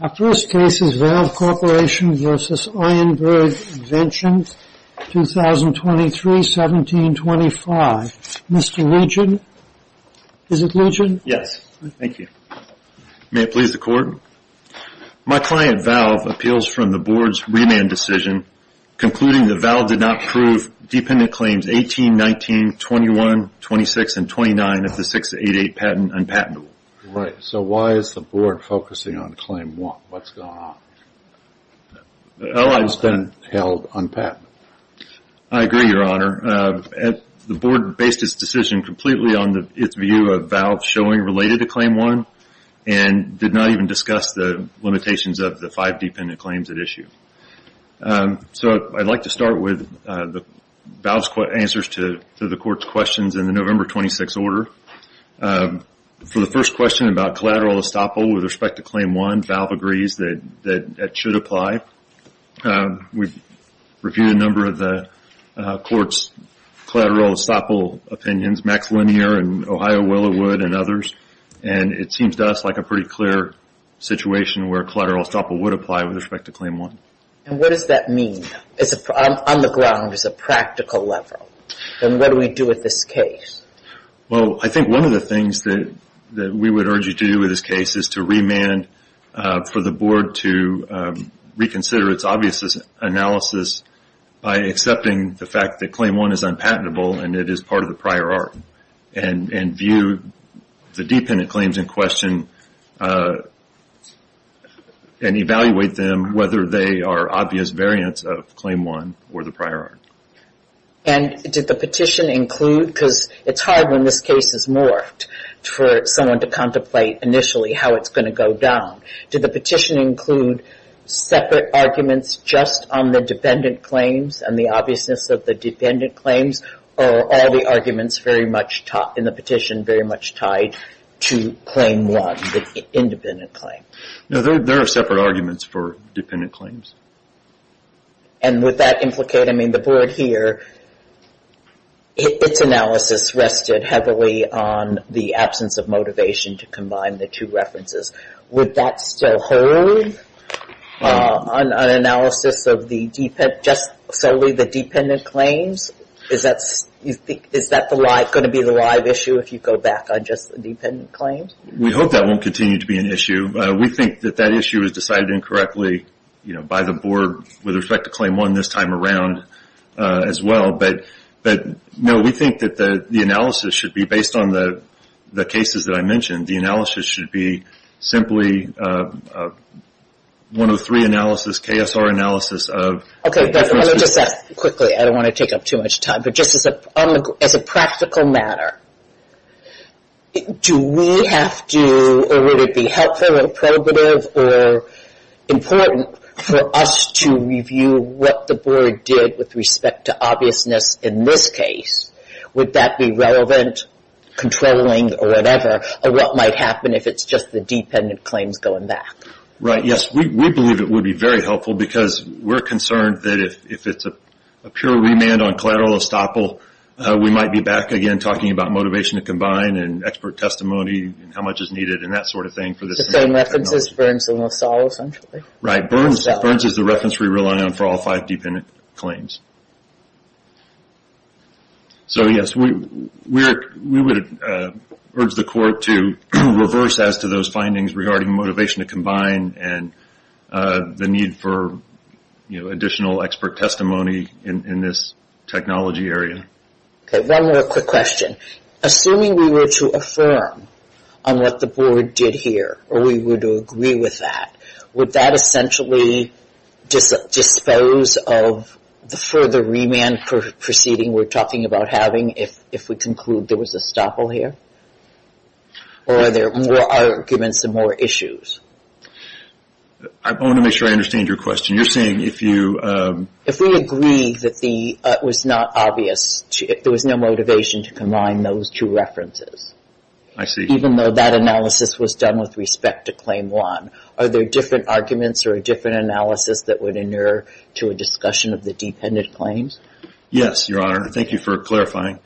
Our first case is Valve Corporation v. Ironburg Inventions, 2023-1725. Mr. Legion, is it Legion? Yes. Thank you. May it please the Court? My client, Valve, appeals from the Board's remand decision concluding the Valve did not prove dependent claims 18, 19, 21, 26, and 29 of the 6-8-8 patent unpatentable. So why is the Board focusing on Claim 1? What's going on? It's been held unpatentable. I agree, Your Honor. The Board based its decision completely on its view of Valve's showing related to Claim 1 and did not even discuss the limitations of the five dependent claims at issue. So I'd like to start with Valve's answers to the Court's questions in the November 26 order. For the first question about collateral estoppel with respect to Claim 1, Valve agrees that that should apply. We've reviewed a number of the Court's collateral estoppel opinions, Max Linear and Ohio Willowood and others, and it seems to us like a pretty clear situation where collateral estoppel would apply with respect to Claim 1. And what does that mean? On the ground, as a practical level, then what do we do with this case? Well, I think one of the things that we would urge you to do with this case is to remand for the Board to reconsider its obvious analysis by accepting the fact that Claim 1 is unpatentable and it is part of the prior art and view the dependent claims in question and evaluate them whether they are obvious variants of Claim 1 or the prior art. And did the petition include, because it's hard when this case is morphed for someone to contemplate initially how it's going to go down, did the petition include separate arguments just on the dependent claims and the obviousness of the dependent claims or all the arguments in the petition very much tied to Claim 1, the independent claim? No, there are separate arguments for dependent claims. And would that implicate, I mean, the Board here, its analysis rested heavily on the absence of motivation to combine the two references. Would that still hold on analysis of just solely the dependent claims? Is that going to be the live issue if you go back on just the dependent claims? We hope that won't continue to be an issue. We think that that issue is decided incorrectly by the Board with respect to Claim 1 this time around as well, but no, we think that the analysis should be based on the cases that I mentioned. The analysis should be simply one of the three analysis, KSR analysis of the dependent claims. Okay, I'll just ask quickly. I don't want to take up too much time, but just as a practical matter, do we have to or would it be helpful or preventative or important for us to review what the Board did with respect to obviousness in this case? Would that be relevant, controlling or whatever of what might happen if it's just the dependent claims going back? Right, yes. We believe it would be very helpful because we're concerned that if it's a pure remand on collateral estoppel, we might be back again talking about motivation to combine and expert testimony and how much is needed and that sort of thing for this. The same reference as Burns and LaSalle essentially? Right, Burns is the reference we rely on for all five dependent claims. So yes, we would urge the Court to reverse as to those findings regarding motivation to combine and the need for additional expert testimony in this technology area. Okay, one more quick question. Assuming we were to affirm on what the Board did here or we were to agree with that, would that essentially dispose of the further remand proceeding we're talking about having if we conclude there was estoppel here or are there more arguments and more issues? I want to make sure I understand your question. You're saying if you... If we agree that it was not obvious, there was no motivation to combine those two references, even though that analysis was done with respect to Claim 1, are there different arguments or a different analysis that would inure to a discussion of the dependent claims? Yes, Your Honor, and thank you for clarifying.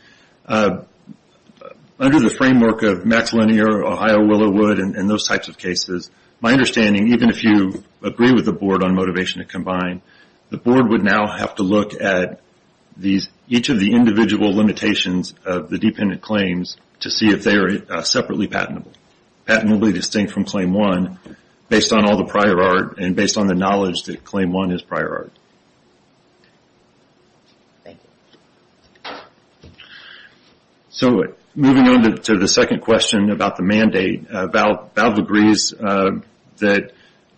Under the framework of Max Linear, Ohio Willow Wood and those types of cases, my understanding, even if you agree with the Board on motivation to combine, the Board would now have to look at each of the individual limitations of the dependent claims to see if they are separately patentable. Patent will be distinct from Claim 1 based on all the prior art and based on the knowledge that Claim 1 is prior art. Thank you. Moving on to the second question about the mandate, Valve agrees that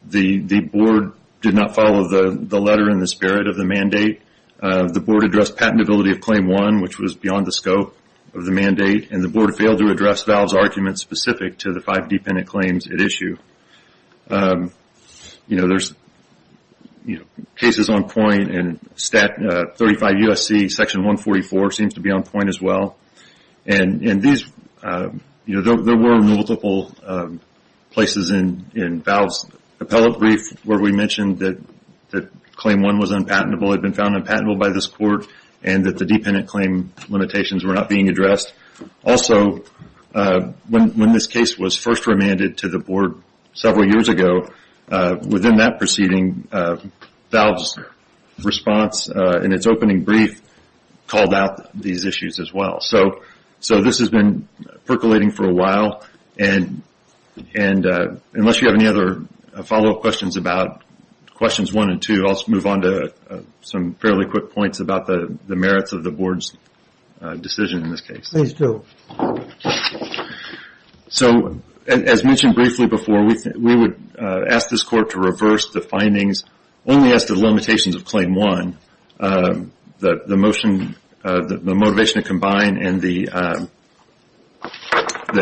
the Board did not follow the letter in the spirit of the mandate. The Board addressed patentability of Claim 1, which was beyond the scope of the mandate, and the Board failed to address Valve's arguments specific to the five dependent claims at issue. There are cases on point, and Stat 35 U.S.C. Section 144 seems to be on point as well. There were multiple places in Valve's appellate brief where we mentioned that Claim 1 was unpatentable, had been found unpatentable by this Court, and that the dependent claim limitations were not being addressed. Also, when this case was first remanded to the Board several years ago, within that preceding, Valve's response in its opening brief called out these issues as well. This has been percolating for a while, and unless you have any other follow-up questions about questions 1 and 2, I will move on to some fairly quick points about the merits of the Board's decision in this case. As mentioned briefly before, we would ask this Court to reverse the findings only as to the limitations of Claim 1, the motivation to combine, and the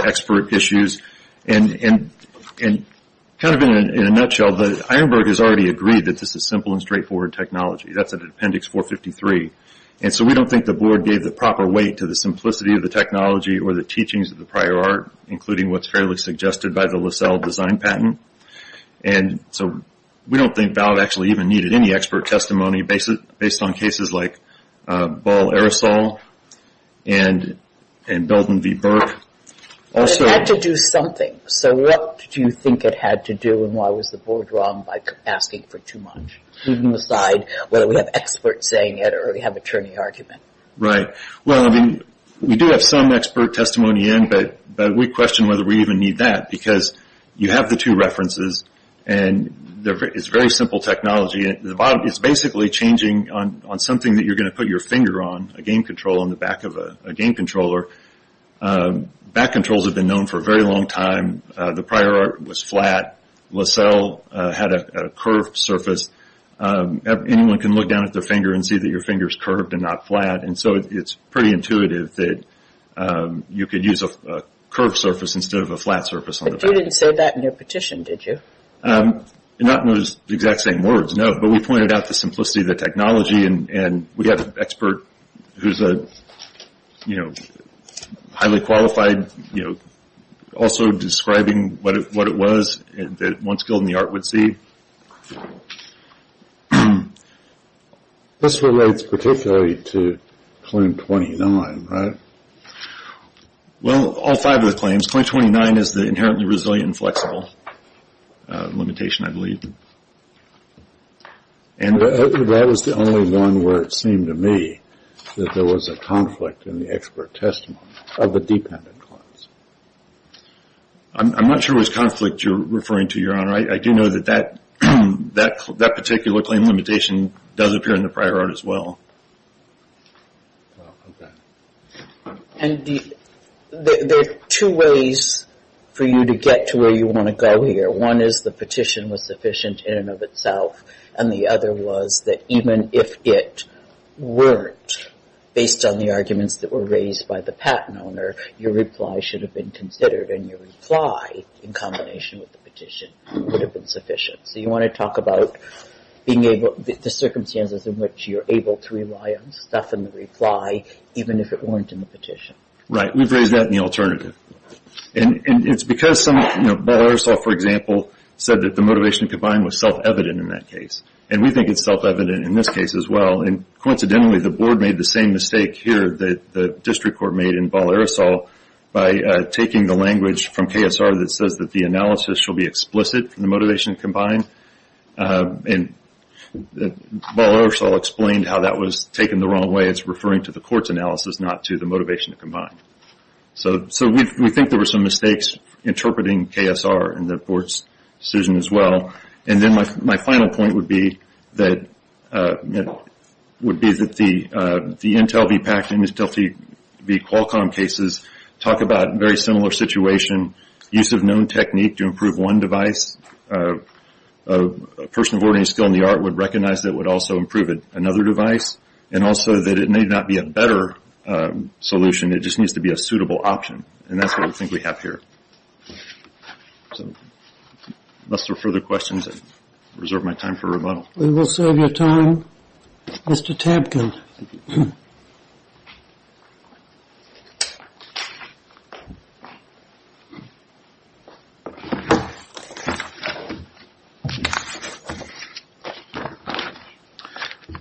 expert issues. Kind of in a nutshell, Ironburg has already agreed that this is simple and straightforward technology. That is in Appendix 453. We do not think the Board gave the proper weight to the simplicity of the technology or the teachings of the prior art, including what is fairly suggested by the LaSalle design patent. We do not think Valve actually even needed any expert testimony based on cases like Ball Aerosol and Belden v. Burke. It had to do something, so what do you think it had to do and why was the Board wrong by asking for too much? Leaving aside whether we have experts saying it or we have attorney argument. Well, I mean, we do have some expert testimony in, but we question whether we even need that because you have the two references and it is very simple technology. It is basically changing on something that you are going to put your finger on, a game controller on the back of a game controller. Back controls have been known for a very long time. The prior art was flat. LaSalle had a curved surface. Anyone can look down at their finger and see that your finger is curved and not flat, and so it is pretty intuitive that you could use a curved surface instead of a flat surface on the back. But you did not say that in your petition, did you? Not in those exact same words, no, but we pointed out the simplicity of the technology and we have an expert who is a highly qualified, also describing what it was that one skilled in the art would see. This relates particularly to claim 29, right? Well all five of the claims, claim 29 is the inherently resilient and flexible limitation I believe. And that was the only one where it seemed to me that there was a conflict in the expert testimony of the dependent clause. I am not sure which conflict you are referring to, your honor. I do know that that particular claim limitation does appear in the prior art as well. And there are two ways for you to get to where you want to go here. One is the petition was sufficient in and of itself, and the other was that even if it weren't, based on the arguments that were raised by the patent owner, your reply should have been considered and your reply, in combination with the petition, would have been sufficient. So you want to talk about the circumstances in which you are able to rely on stuff in the reply, even if it weren't in the petition. Right, we have raised that in the alternative. And it's because Ball-Aerosol, for example, said that the motivation to combine was self-evident in that case. And we think it's self-evident in this case as well. And coincidentally, the board made the same mistake here that the district court made in Ball-Aerosol by taking the language from KSR that says that the analysis should be explicit in the motivation to combine, and Ball-Aerosol explained how that was taken the wrong way. It's referring to the court's analysis, not to the motivation to combine. So we think there were some mistakes interpreting KSR in the board's decision as well. And then my final point would be that the Intel v. Pact and the Intel v. Qualcomm cases talk about a very similar situation. Use of known technique to improve one device, a person of learning skill in the art would recognize that it would also improve another device, and also that it may not be a better solution. It just needs to be a suitable option, and that's what we think we have here. So unless there are further questions, I reserve my time for rebuttal. We will serve your time, Mr. Tampkin.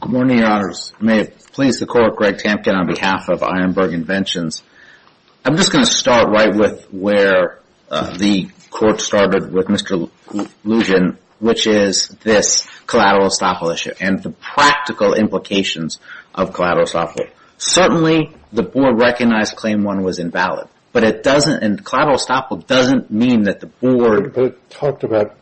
Good morning, Your Honors. May it please the Court, Greg Tampkin on behalf of Ironburg Inventions. I'm just going to start right with where the court started with Mr. Lugin, which is this collateral estoppel issue and the practical implications of collateral estoppel. Certainly the board recognized Claim 1 was invalid, but collateral estoppel doesn't mean that the board... But it talked about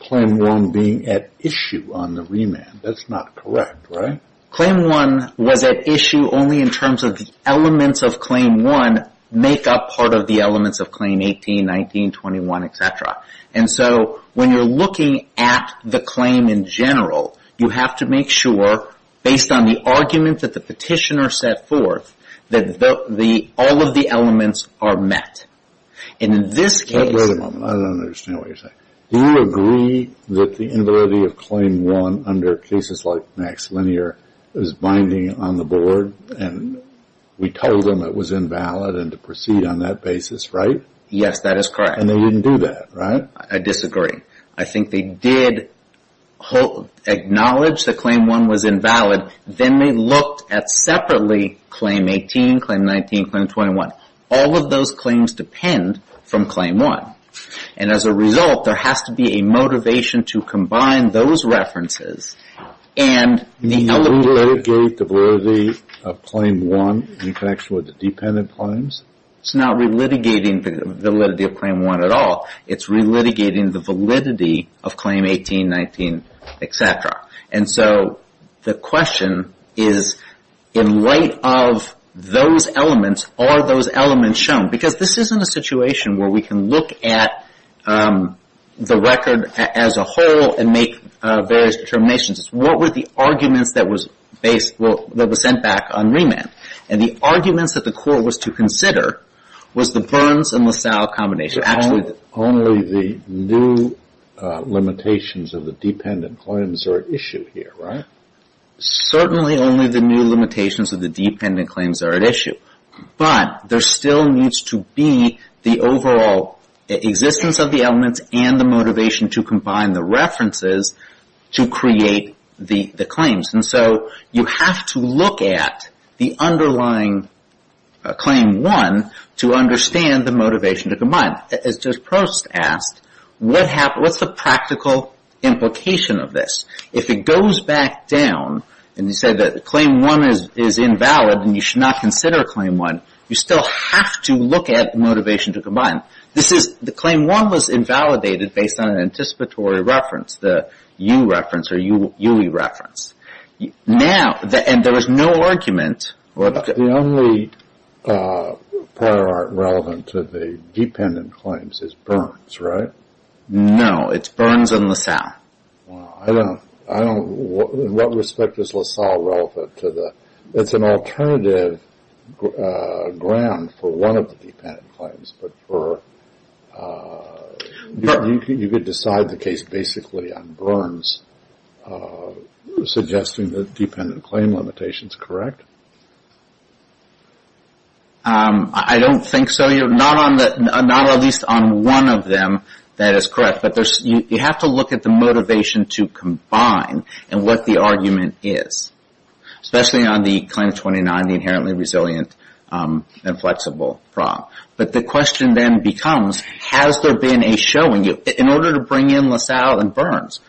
Claim 1 being at issue on the remand. That's not correct, right? Claim 1 was at issue only in terms of the elements of Claim 1 make up part of the elements of Claim 18, 19, 21, etc. And so when you're looking at the claim in general, you have to make sure, based on the argument that the petitioner set forth, that all of the elements are met. And in this case... Wait a moment. I don't understand what you're saying. Do you agree that the invalidity of Claim 1 under cases like Max Linear is binding on the board? And we told them it was invalid and to proceed on that basis, right? Yes, that is correct. And they didn't do that, right? I disagree. I think they did acknowledge that Claim 1 was invalid, then they looked at separately Claim 18, Claim 19, Claim 21. All of those claims depend from Claim 1. And as a result, there has to be a motivation to combine those references and the... Do you re-litigate the validity of Claim 1 in connection with the dependent claims? It's not re-litigating the validity of Claim 1 at all. It's re-litigating the validity of Claim 18, 19, etc. And so the question is, in light of those elements, are those elements shown? Because this isn't a situation where we can look at the record as a whole and make various determinations. It's what were the arguments that were sent back on remand. And the arguments that the court was to consider was the Burns and LaSalle combination. Only the new limitations of the dependent claims are at issue here, right? Certainly only the new limitations of the dependent claims are at issue. But there still needs to be the overall existence of the elements and the motivation to combine the references to create the claims. And so you have to look at the underlying Claim 1 to understand the motivation to combine. As Judge Prost asked, what's the practical implication of this? If it goes back down and you say that Claim 1 is invalid and you should not consider a Claim 1, you still have to look at motivation to combine. The Claim 1 was invalidated based on an anticipatory reference, the U reference or UE reference. And there was no argument. But the only prior art relevant to the dependent claims is Burns, right? No. It's Burns and LaSalle. Wow. So there's no ground for one of the dependent claims, but you could decide the case basically on Burns, suggesting the dependent claim limitation is correct? I don't think so. Not at least on one of them that is correct. But you have to look at the motivation to combine and what the argument is. Especially on the Claim 29, the inherently resilient and flexible problem. But the question then becomes, has there been a showing in order to bring in LaSalle and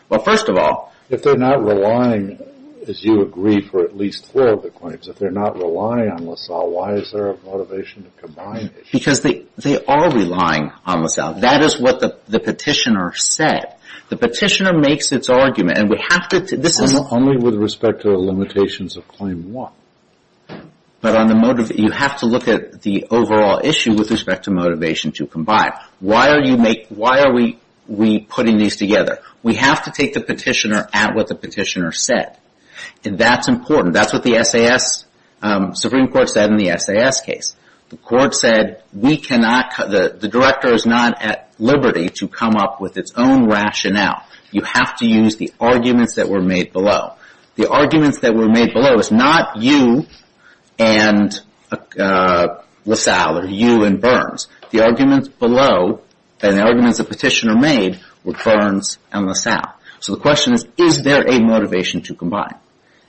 Well, first of all... If they're not relying, as you agree, for at least four of the claims, if they're not relying on LaSalle, why is there a motivation to combine? Because they are relying on LaSalle. That is what the petitioner said. The petitioner makes its argument. Only with respect to the limitations of Claim 1. But you have to look at the overall issue with respect to motivation to combine. Why are we putting these together? We have to take the petitioner at what the petitioner said. And that's important. That's what the Supreme Court said in the SAS case. The court said the director is not at liberty to come up with its own rationale. You have to use the arguments that were made below. The arguments that were made below is not you and LaSalle, or you and Burns. The arguments below, and the arguments the petitioner made, were Burns and LaSalle. So the question is, is there a motivation to combine?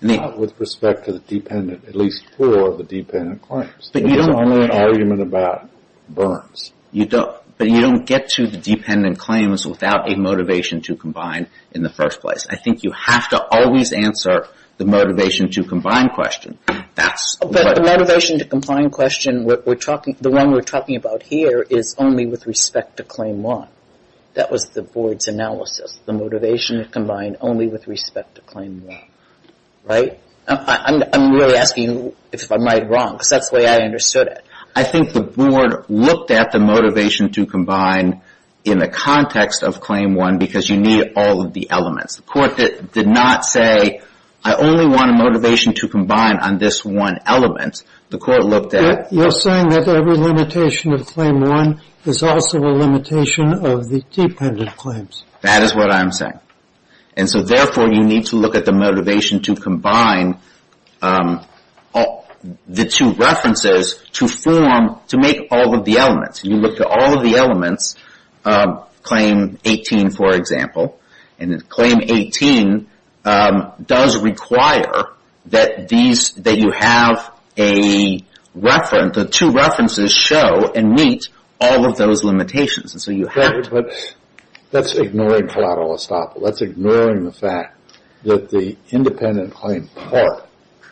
With respect to the dependent, at least four of the dependent claims. There's only an argument about Burns. But you don't get to the dependent claims without a motivation to combine in the first place. I think you have to always answer the motivation to combine question. But the motivation to combine question, the one we're talking about here, is only with respect to Claim 1. That was the board's analysis. The motivation to combine only with respect to Claim 1. Right? I'm really asking if I'm right or wrong, because that's the way I understood it. I think the board looked at the motivation to combine in the context of Claim 1, because you need all of the elements. The court did not say, I only want a motivation to combine on this one element. The court looked at- You're saying that every limitation of Claim 1 is also a limitation of the dependent claims. That is what I'm saying. And so therefore, you need to look at the motivation to combine the two references to form, to make all of the elements. You look at all of the elements, Claim 18, for example. And Claim 18 does require that these, that you have a reference, the two references show and meet all of those limitations. And so you have to- That's ignoring collateral estoppel. That's ignoring the fact that the independent claim part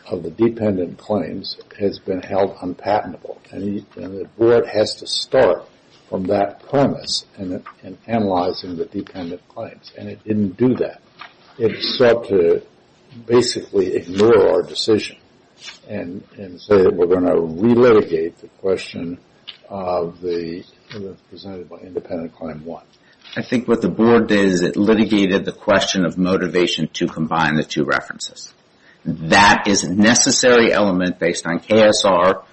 of the dependent claims has been held unpatentable. And the board has to start from that premise in analyzing the dependent claims. And it didn't do that. It sought to basically ignore our decision and say that we're going to re-litigate the question of the, presented by independent Claim 1. I think what the board did is it litigated the question of motivation to combine the two references. That is a necessary element based on KSR,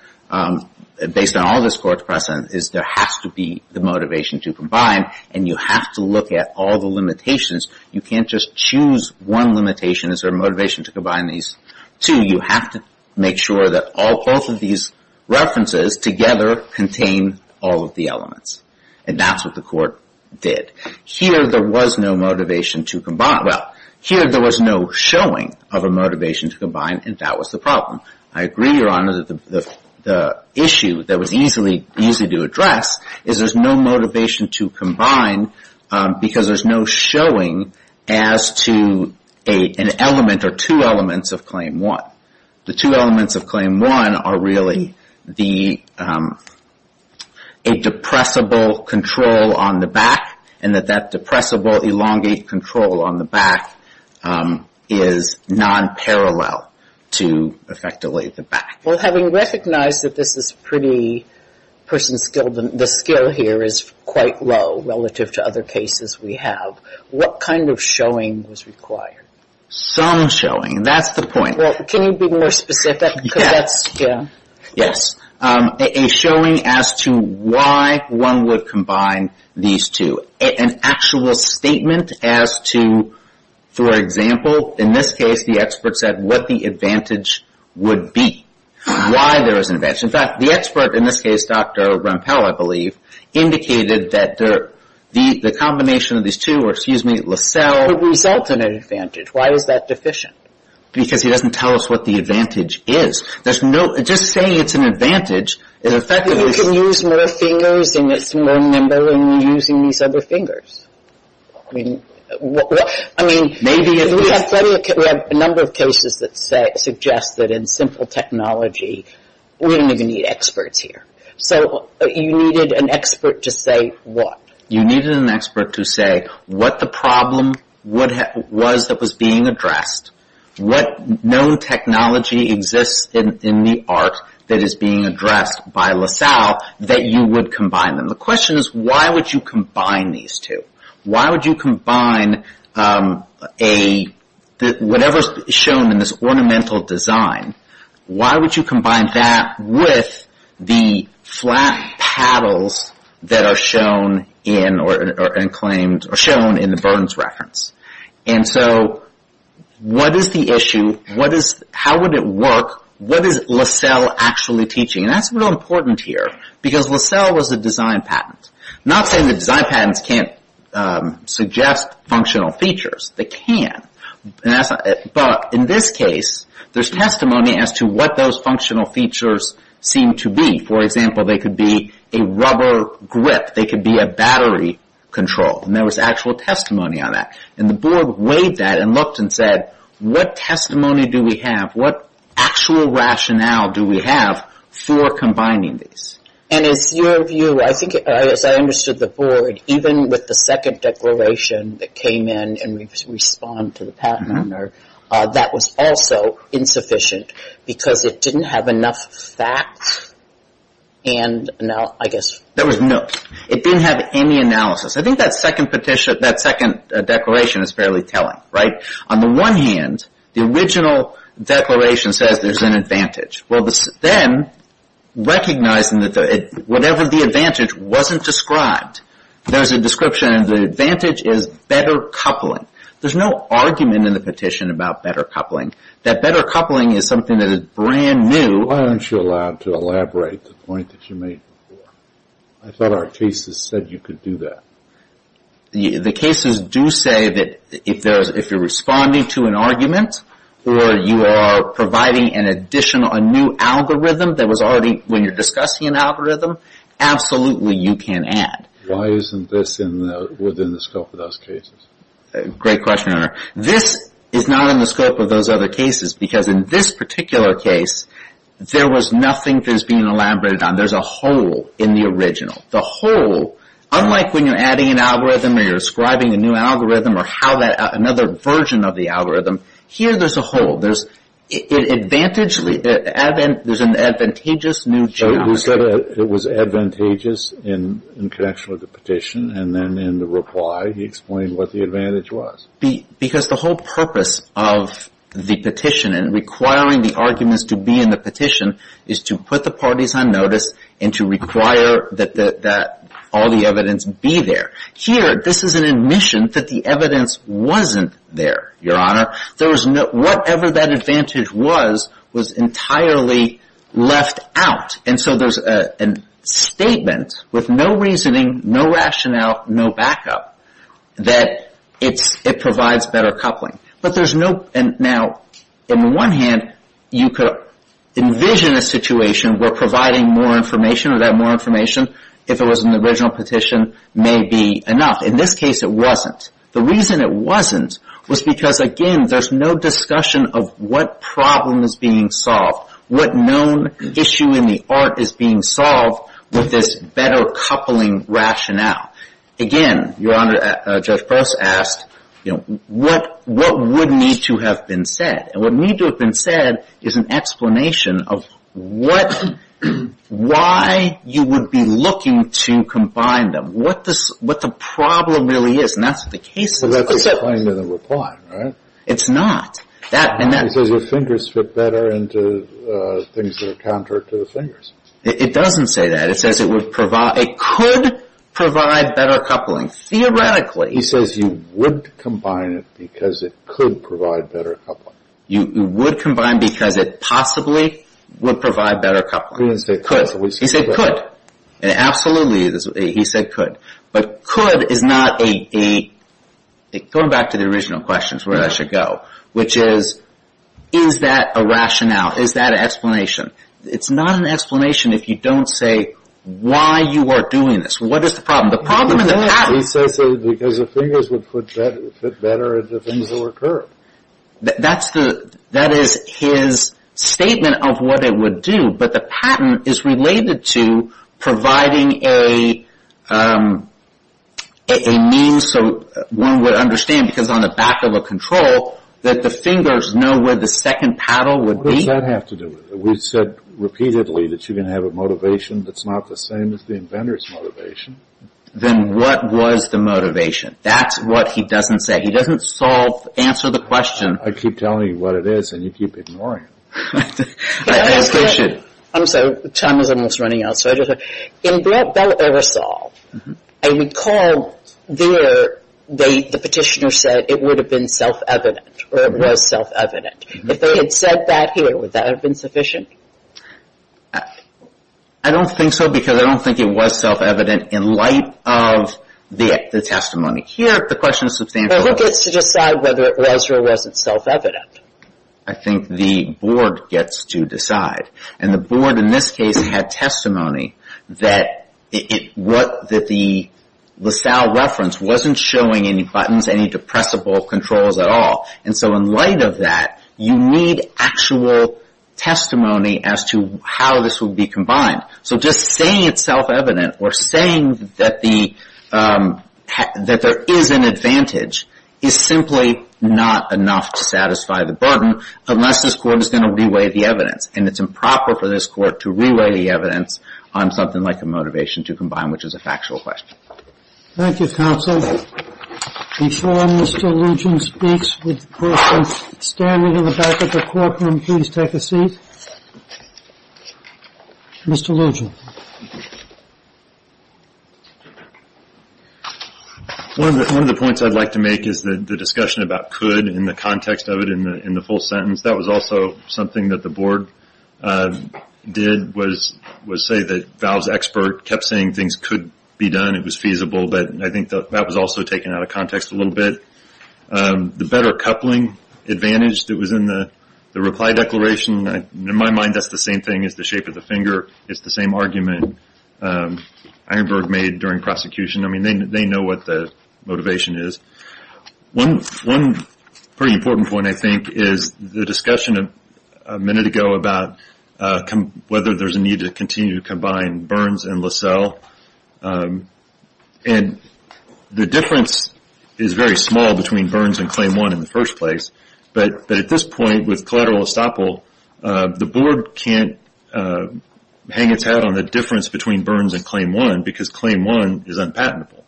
based on all this court's precedent, is there has to be the motivation to combine. And you have to look at all the limitations. You can't just choose one limitation. Is there a motivation to combine these two? You have to make sure that all, both of these references together contain all of the elements. And that's what the court did. Here, there was no motivation to combine. Well, here there was no showing of a motivation to combine, and that was the problem. I agree, Your Honor, that the issue that was easy to address is there's no motivation to combine because there's no showing as to an element or two elements of Claim 1. The two elements of Claim 1 are really a depressible control on the back and that that depressible elongate control on the back is non-parallel to effectively the back. Well, having recognized that this is pretty person-skilled and the skill here is quite low relative to other cases we have, what kind of showing was required? Some showing, and that's the point. Well, can you be more specific because that's, yeah. Yes, a showing as to why one would combine these two. An actual statement as to, for example, in this case, the expert said what the advantage would be, why there is an advantage. In fact, the expert, in this case, Dr. Rampell, I believe, indicated that the combination of these two or, excuse me, LaSalle would result in an advantage. Why was that deficient? Because he doesn't tell us what the advantage is. There's no, just saying it's an advantage is effective. You can use more fingers and it's more nimble in using these other fingers. I mean, we have a number of cases that suggest that in simple technology, we don't even need experts here. So you needed an expert to say what? You needed an expert to say what the problem was that was being addressed, what known technology exists in the art that is being addressed by LaSalle that you would combine them. The question is, why would you combine these two? Why would you combine whatever's shown in this ornamental design, why would you combine that with the flat paddles that are shown in the Burns reference? And so, what is the issue? How would it work? What is LaSalle actually teaching? And that's real important here because LaSalle was a design patent. Not saying that design patents can't suggest functional features. They can. But in this case, there's testimony as to what those functional features seem to be. For example, they could be a rubber grip. They could be a battery control. And there was actual testimony on that. And the board weighed that and looked and said, what testimony do we have, what actual rationale do we have for combining these? And is your view, I think as I understood the board, even with the second declaration that came in and we respond to the patent owner, that was also insufficient because it didn't have enough facts and I guess... There was no, it didn't have any analysis. I think that second petition, that second declaration is fairly telling, right? On the one hand, the original declaration says there's an advantage. Well, then recognizing that whatever the advantage wasn't described, there's a description of the advantage is better coupling. There's no argument in the petition about better coupling. That better coupling is something that is brand new. Why aren't you allowed to elaborate the point that you made before? I thought our cases said you could do that. The cases do say that if you're responding to an argument or you are providing an additional, a new algorithm that was already, when you're discussing an algorithm, absolutely you can add. Why isn't this within the scope of those cases? Great question, Your Honor. This is not in the scope of those other cases because in this particular case, there was nothing that was being elaborated on. There's a hole in the original. The hole, unlike when you're adding an algorithm or you're describing a new algorithm or how that, another version of the algorithm, here there's a hole. There's advantage, there's an advantageous new geometry. It was advantageous in connection with the petition and then in the reply, he explained what the advantage was. Because the whole purpose of the petition and requiring the arguments to be in the petition is to put the parties on notice and to require that all the evidence be there. Here, this is an admission that the evidence wasn't there, Your Honor. There was no, whatever that advantage was, was entirely left out. And so there's a statement with no reasoning, no rationale, no backup that it provides better coupling. But there's no, and now, on the one hand, you could envision a situation where providing more information or that more information, if it was an original petition, may be enough. In this case, it wasn't. The reason it wasn't was because, again, there's no discussion of what problem is being solved, what known issue in the art is being solved with this better coupling rationale. Again, Your Honor, Judge Pross asked, you know, what would need to have been said? And what needed to have been said is an explanation of what, why you would be looking to combine them, what the problem really is. And that's the case. So that's the claim in the reply, right? It's not. That, and that. It says your fingers fit better into things that are counter to the fingers. It doesn't say that. It says it would provide, it could provide better coupling. Theoretically. He says you would combine it because it could provide better coupling. You would combine because it possibly would provide better coupling. He didn't say could. He said could. And absolutely, he said could. But could is not a, going back to the original question is where I should go, which is, is that a rationale? Is that an explanation? It's not an explanation if you don't say why you are doing this. What is the problem? The problem in the patent. He says so because the fingers would fit better into things that were current. That's the, that is his statement of what it would do. But the patent is related to providing a, a means so one would understand, because on the back of a control, that the fingers know where the second paddle would be. What does that have to do with it? We've said repeatedly that you're going to have a motivation that's not the same as the inventor's motivation. Then what was the motivation? That's what he doesn't say. He doesn't solve, answer the question. I keep telling you what it is and you keep ignoring it. I'm sorry, time is almost running out. So I just, in Brett Bell Aerosol, I recall there, they, the petitioner said it would have been self-evident, or it was self-evident. If they had said that here, would that have been sufficient? I don't think so because I don't think it was self-evident in light of the, the testimony. Here, the question is substantial. But who gets to decide whether it was or wasn't self-evident? I think the board gets to decide. And the board in this case had testimony that it, what, that the LaSalle reference wasn't showing any buttons, any depressible controls at all. And so in light of that, you need actual testimony as to how this would be combined. So just saying it's self-evident, or saying that the that there is an advantage, is simply not enough to satisfy the burden, unless this court is going to re-weigh the evidence, and it's improper for this court to re-weigh the evidence on something like a motivation to combine, which is a factual question. Thank you, counsel. Before Mr. Lugin speaks, would the person standing in the back of the court room please take a seat? Mr. Lugin. One of the, one of the points I'd like to make is the, the discussion about could in the context of it in the, in the full sentence. That was also something that the board did was, was say that Val's expert kept saying things could be done. It was feasible, but I think that was also taken out of context a little bit. The better coupling advantage that was in the, the reply declaration, in my mind, that's the same thing as the shape of the finger. It's the same argument, Ironberg made during prosecution. I mean, they, they know what the motivation is. One, one pretty important point, I think, is the discussion a minute ago about whether there's a need to continue to combine Burns and LaSalle. And the difference is very small between Burns and Claim 1 in the first place. But, but at this point, with collateral estoppel, the board can't hang its hat on the difference between Burns and Claim 1, because Claim 1 is unpatentable.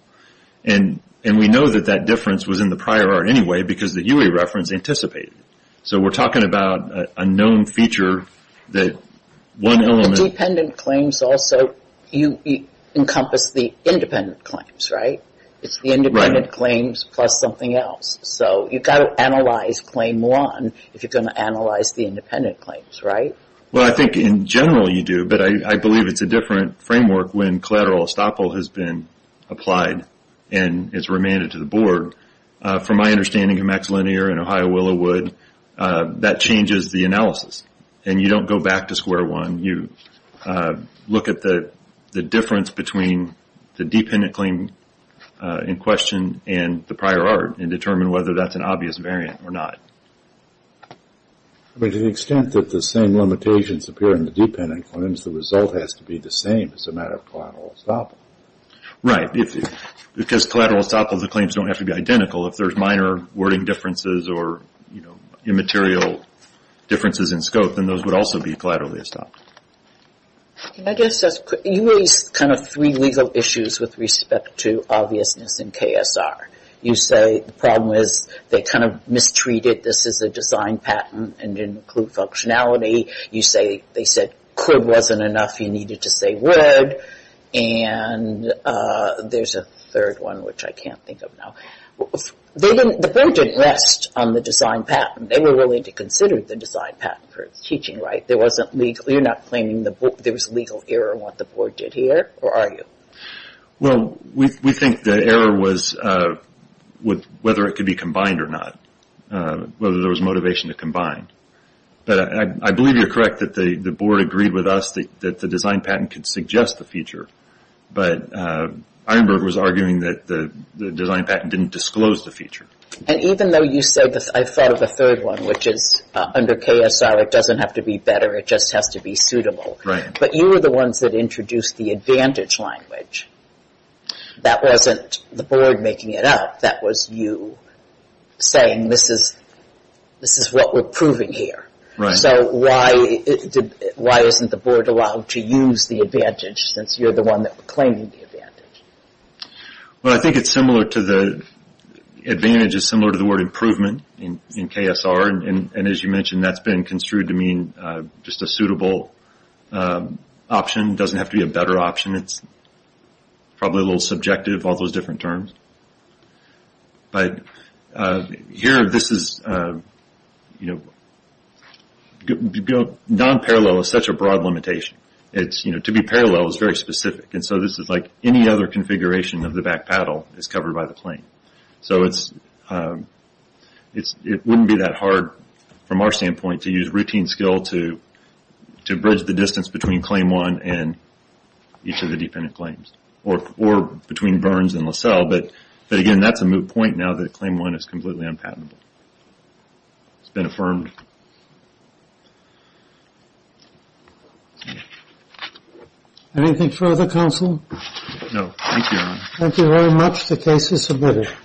And, and we know that that difference was in the prior art anyway, because the UE reference anticipated it. So we're talking about a, a known feature that one element. Dependent claims also, you, you encompass the independent claims, right? It's the independent claims plus something else. So you've got to analyze Claim 1 if you're going to analyze the independent claims, right? Well, I think in general you do, but I, I believe it's a different framework when collateral estoppel has been applied and is remanded to the board. From my understanding of Max Linear and Ohio Willow Wood, that changes the analysis. And you don't go back to square one, you look at the, the difference between the dependent claim in question and the prior art, and determine whether that's an obvious variant or not. But to the extent that the same limitations appear in the dependent claims, the result has to be the same as a matter of collateral estoppel. Right, if, because collateral estoppel, the claims don't have to be identical. If there's minor wording differences or, you know, material differences in scope, then those would also be collateral estoppel. I guess that's, you raised kind of three legal issues with respect to obviousness in KSR. You say, the problem is, they kind of mistreated this as a design patent and didn't include functionality. You say, they said, could wasn't enough, you needed to say would. And there's a third one which I can't think of now. They didn't, the board didn't rest on the design patent. They were willing to consider the design patent for its teaching, right? There wasn't legal, you're not claiming the board, there was legal error in what the board did here, or are you? Well, we, we think the error was with whether it could be combined or not. Whether there was motivation to combine. But I, I believe you're correct that the, the board agreed with us that, that the design patent could suggest the feature. But, Irenberg was arguing that the, the design patent didn't disclose the feature. And even though you said, I thought of a third one, which is under KSR, it doesn't have to be better, it just has to be suitable. Right. But you were the ones that introduced the advantage language. That wasn't the board making it up. That was you saying, this is, this is what we're proving here. Right. So why, why isn't the board allowed to use the advantage, since you're the one that was claiming the advantage? Well, I think it's similar to the, advantage is similar to the word improvement in, in KSR. And, and as you mentioned, that's been construed to mean just a suitable option. Doesn't have to be a better option. It's probably a little subjective, all those different terms. But here, this is, you know, non-parallel is such a broad limitation. It's, you know, to be parallel is very specific. And so this is like any other configuration of the back paddle is covered by the claim. So it's, it's, it wouldn't be that hard from our standpoint to use routine skill to, to bridge the distance between claim one and each of the defendant claims. Or, or between Burns and LaSalle. But, but again, that's a moot point now that claim one is completely unpatentable. It's been affirmed. Anything further, counsel? No, thank you. Thank you very much. The case is submitted.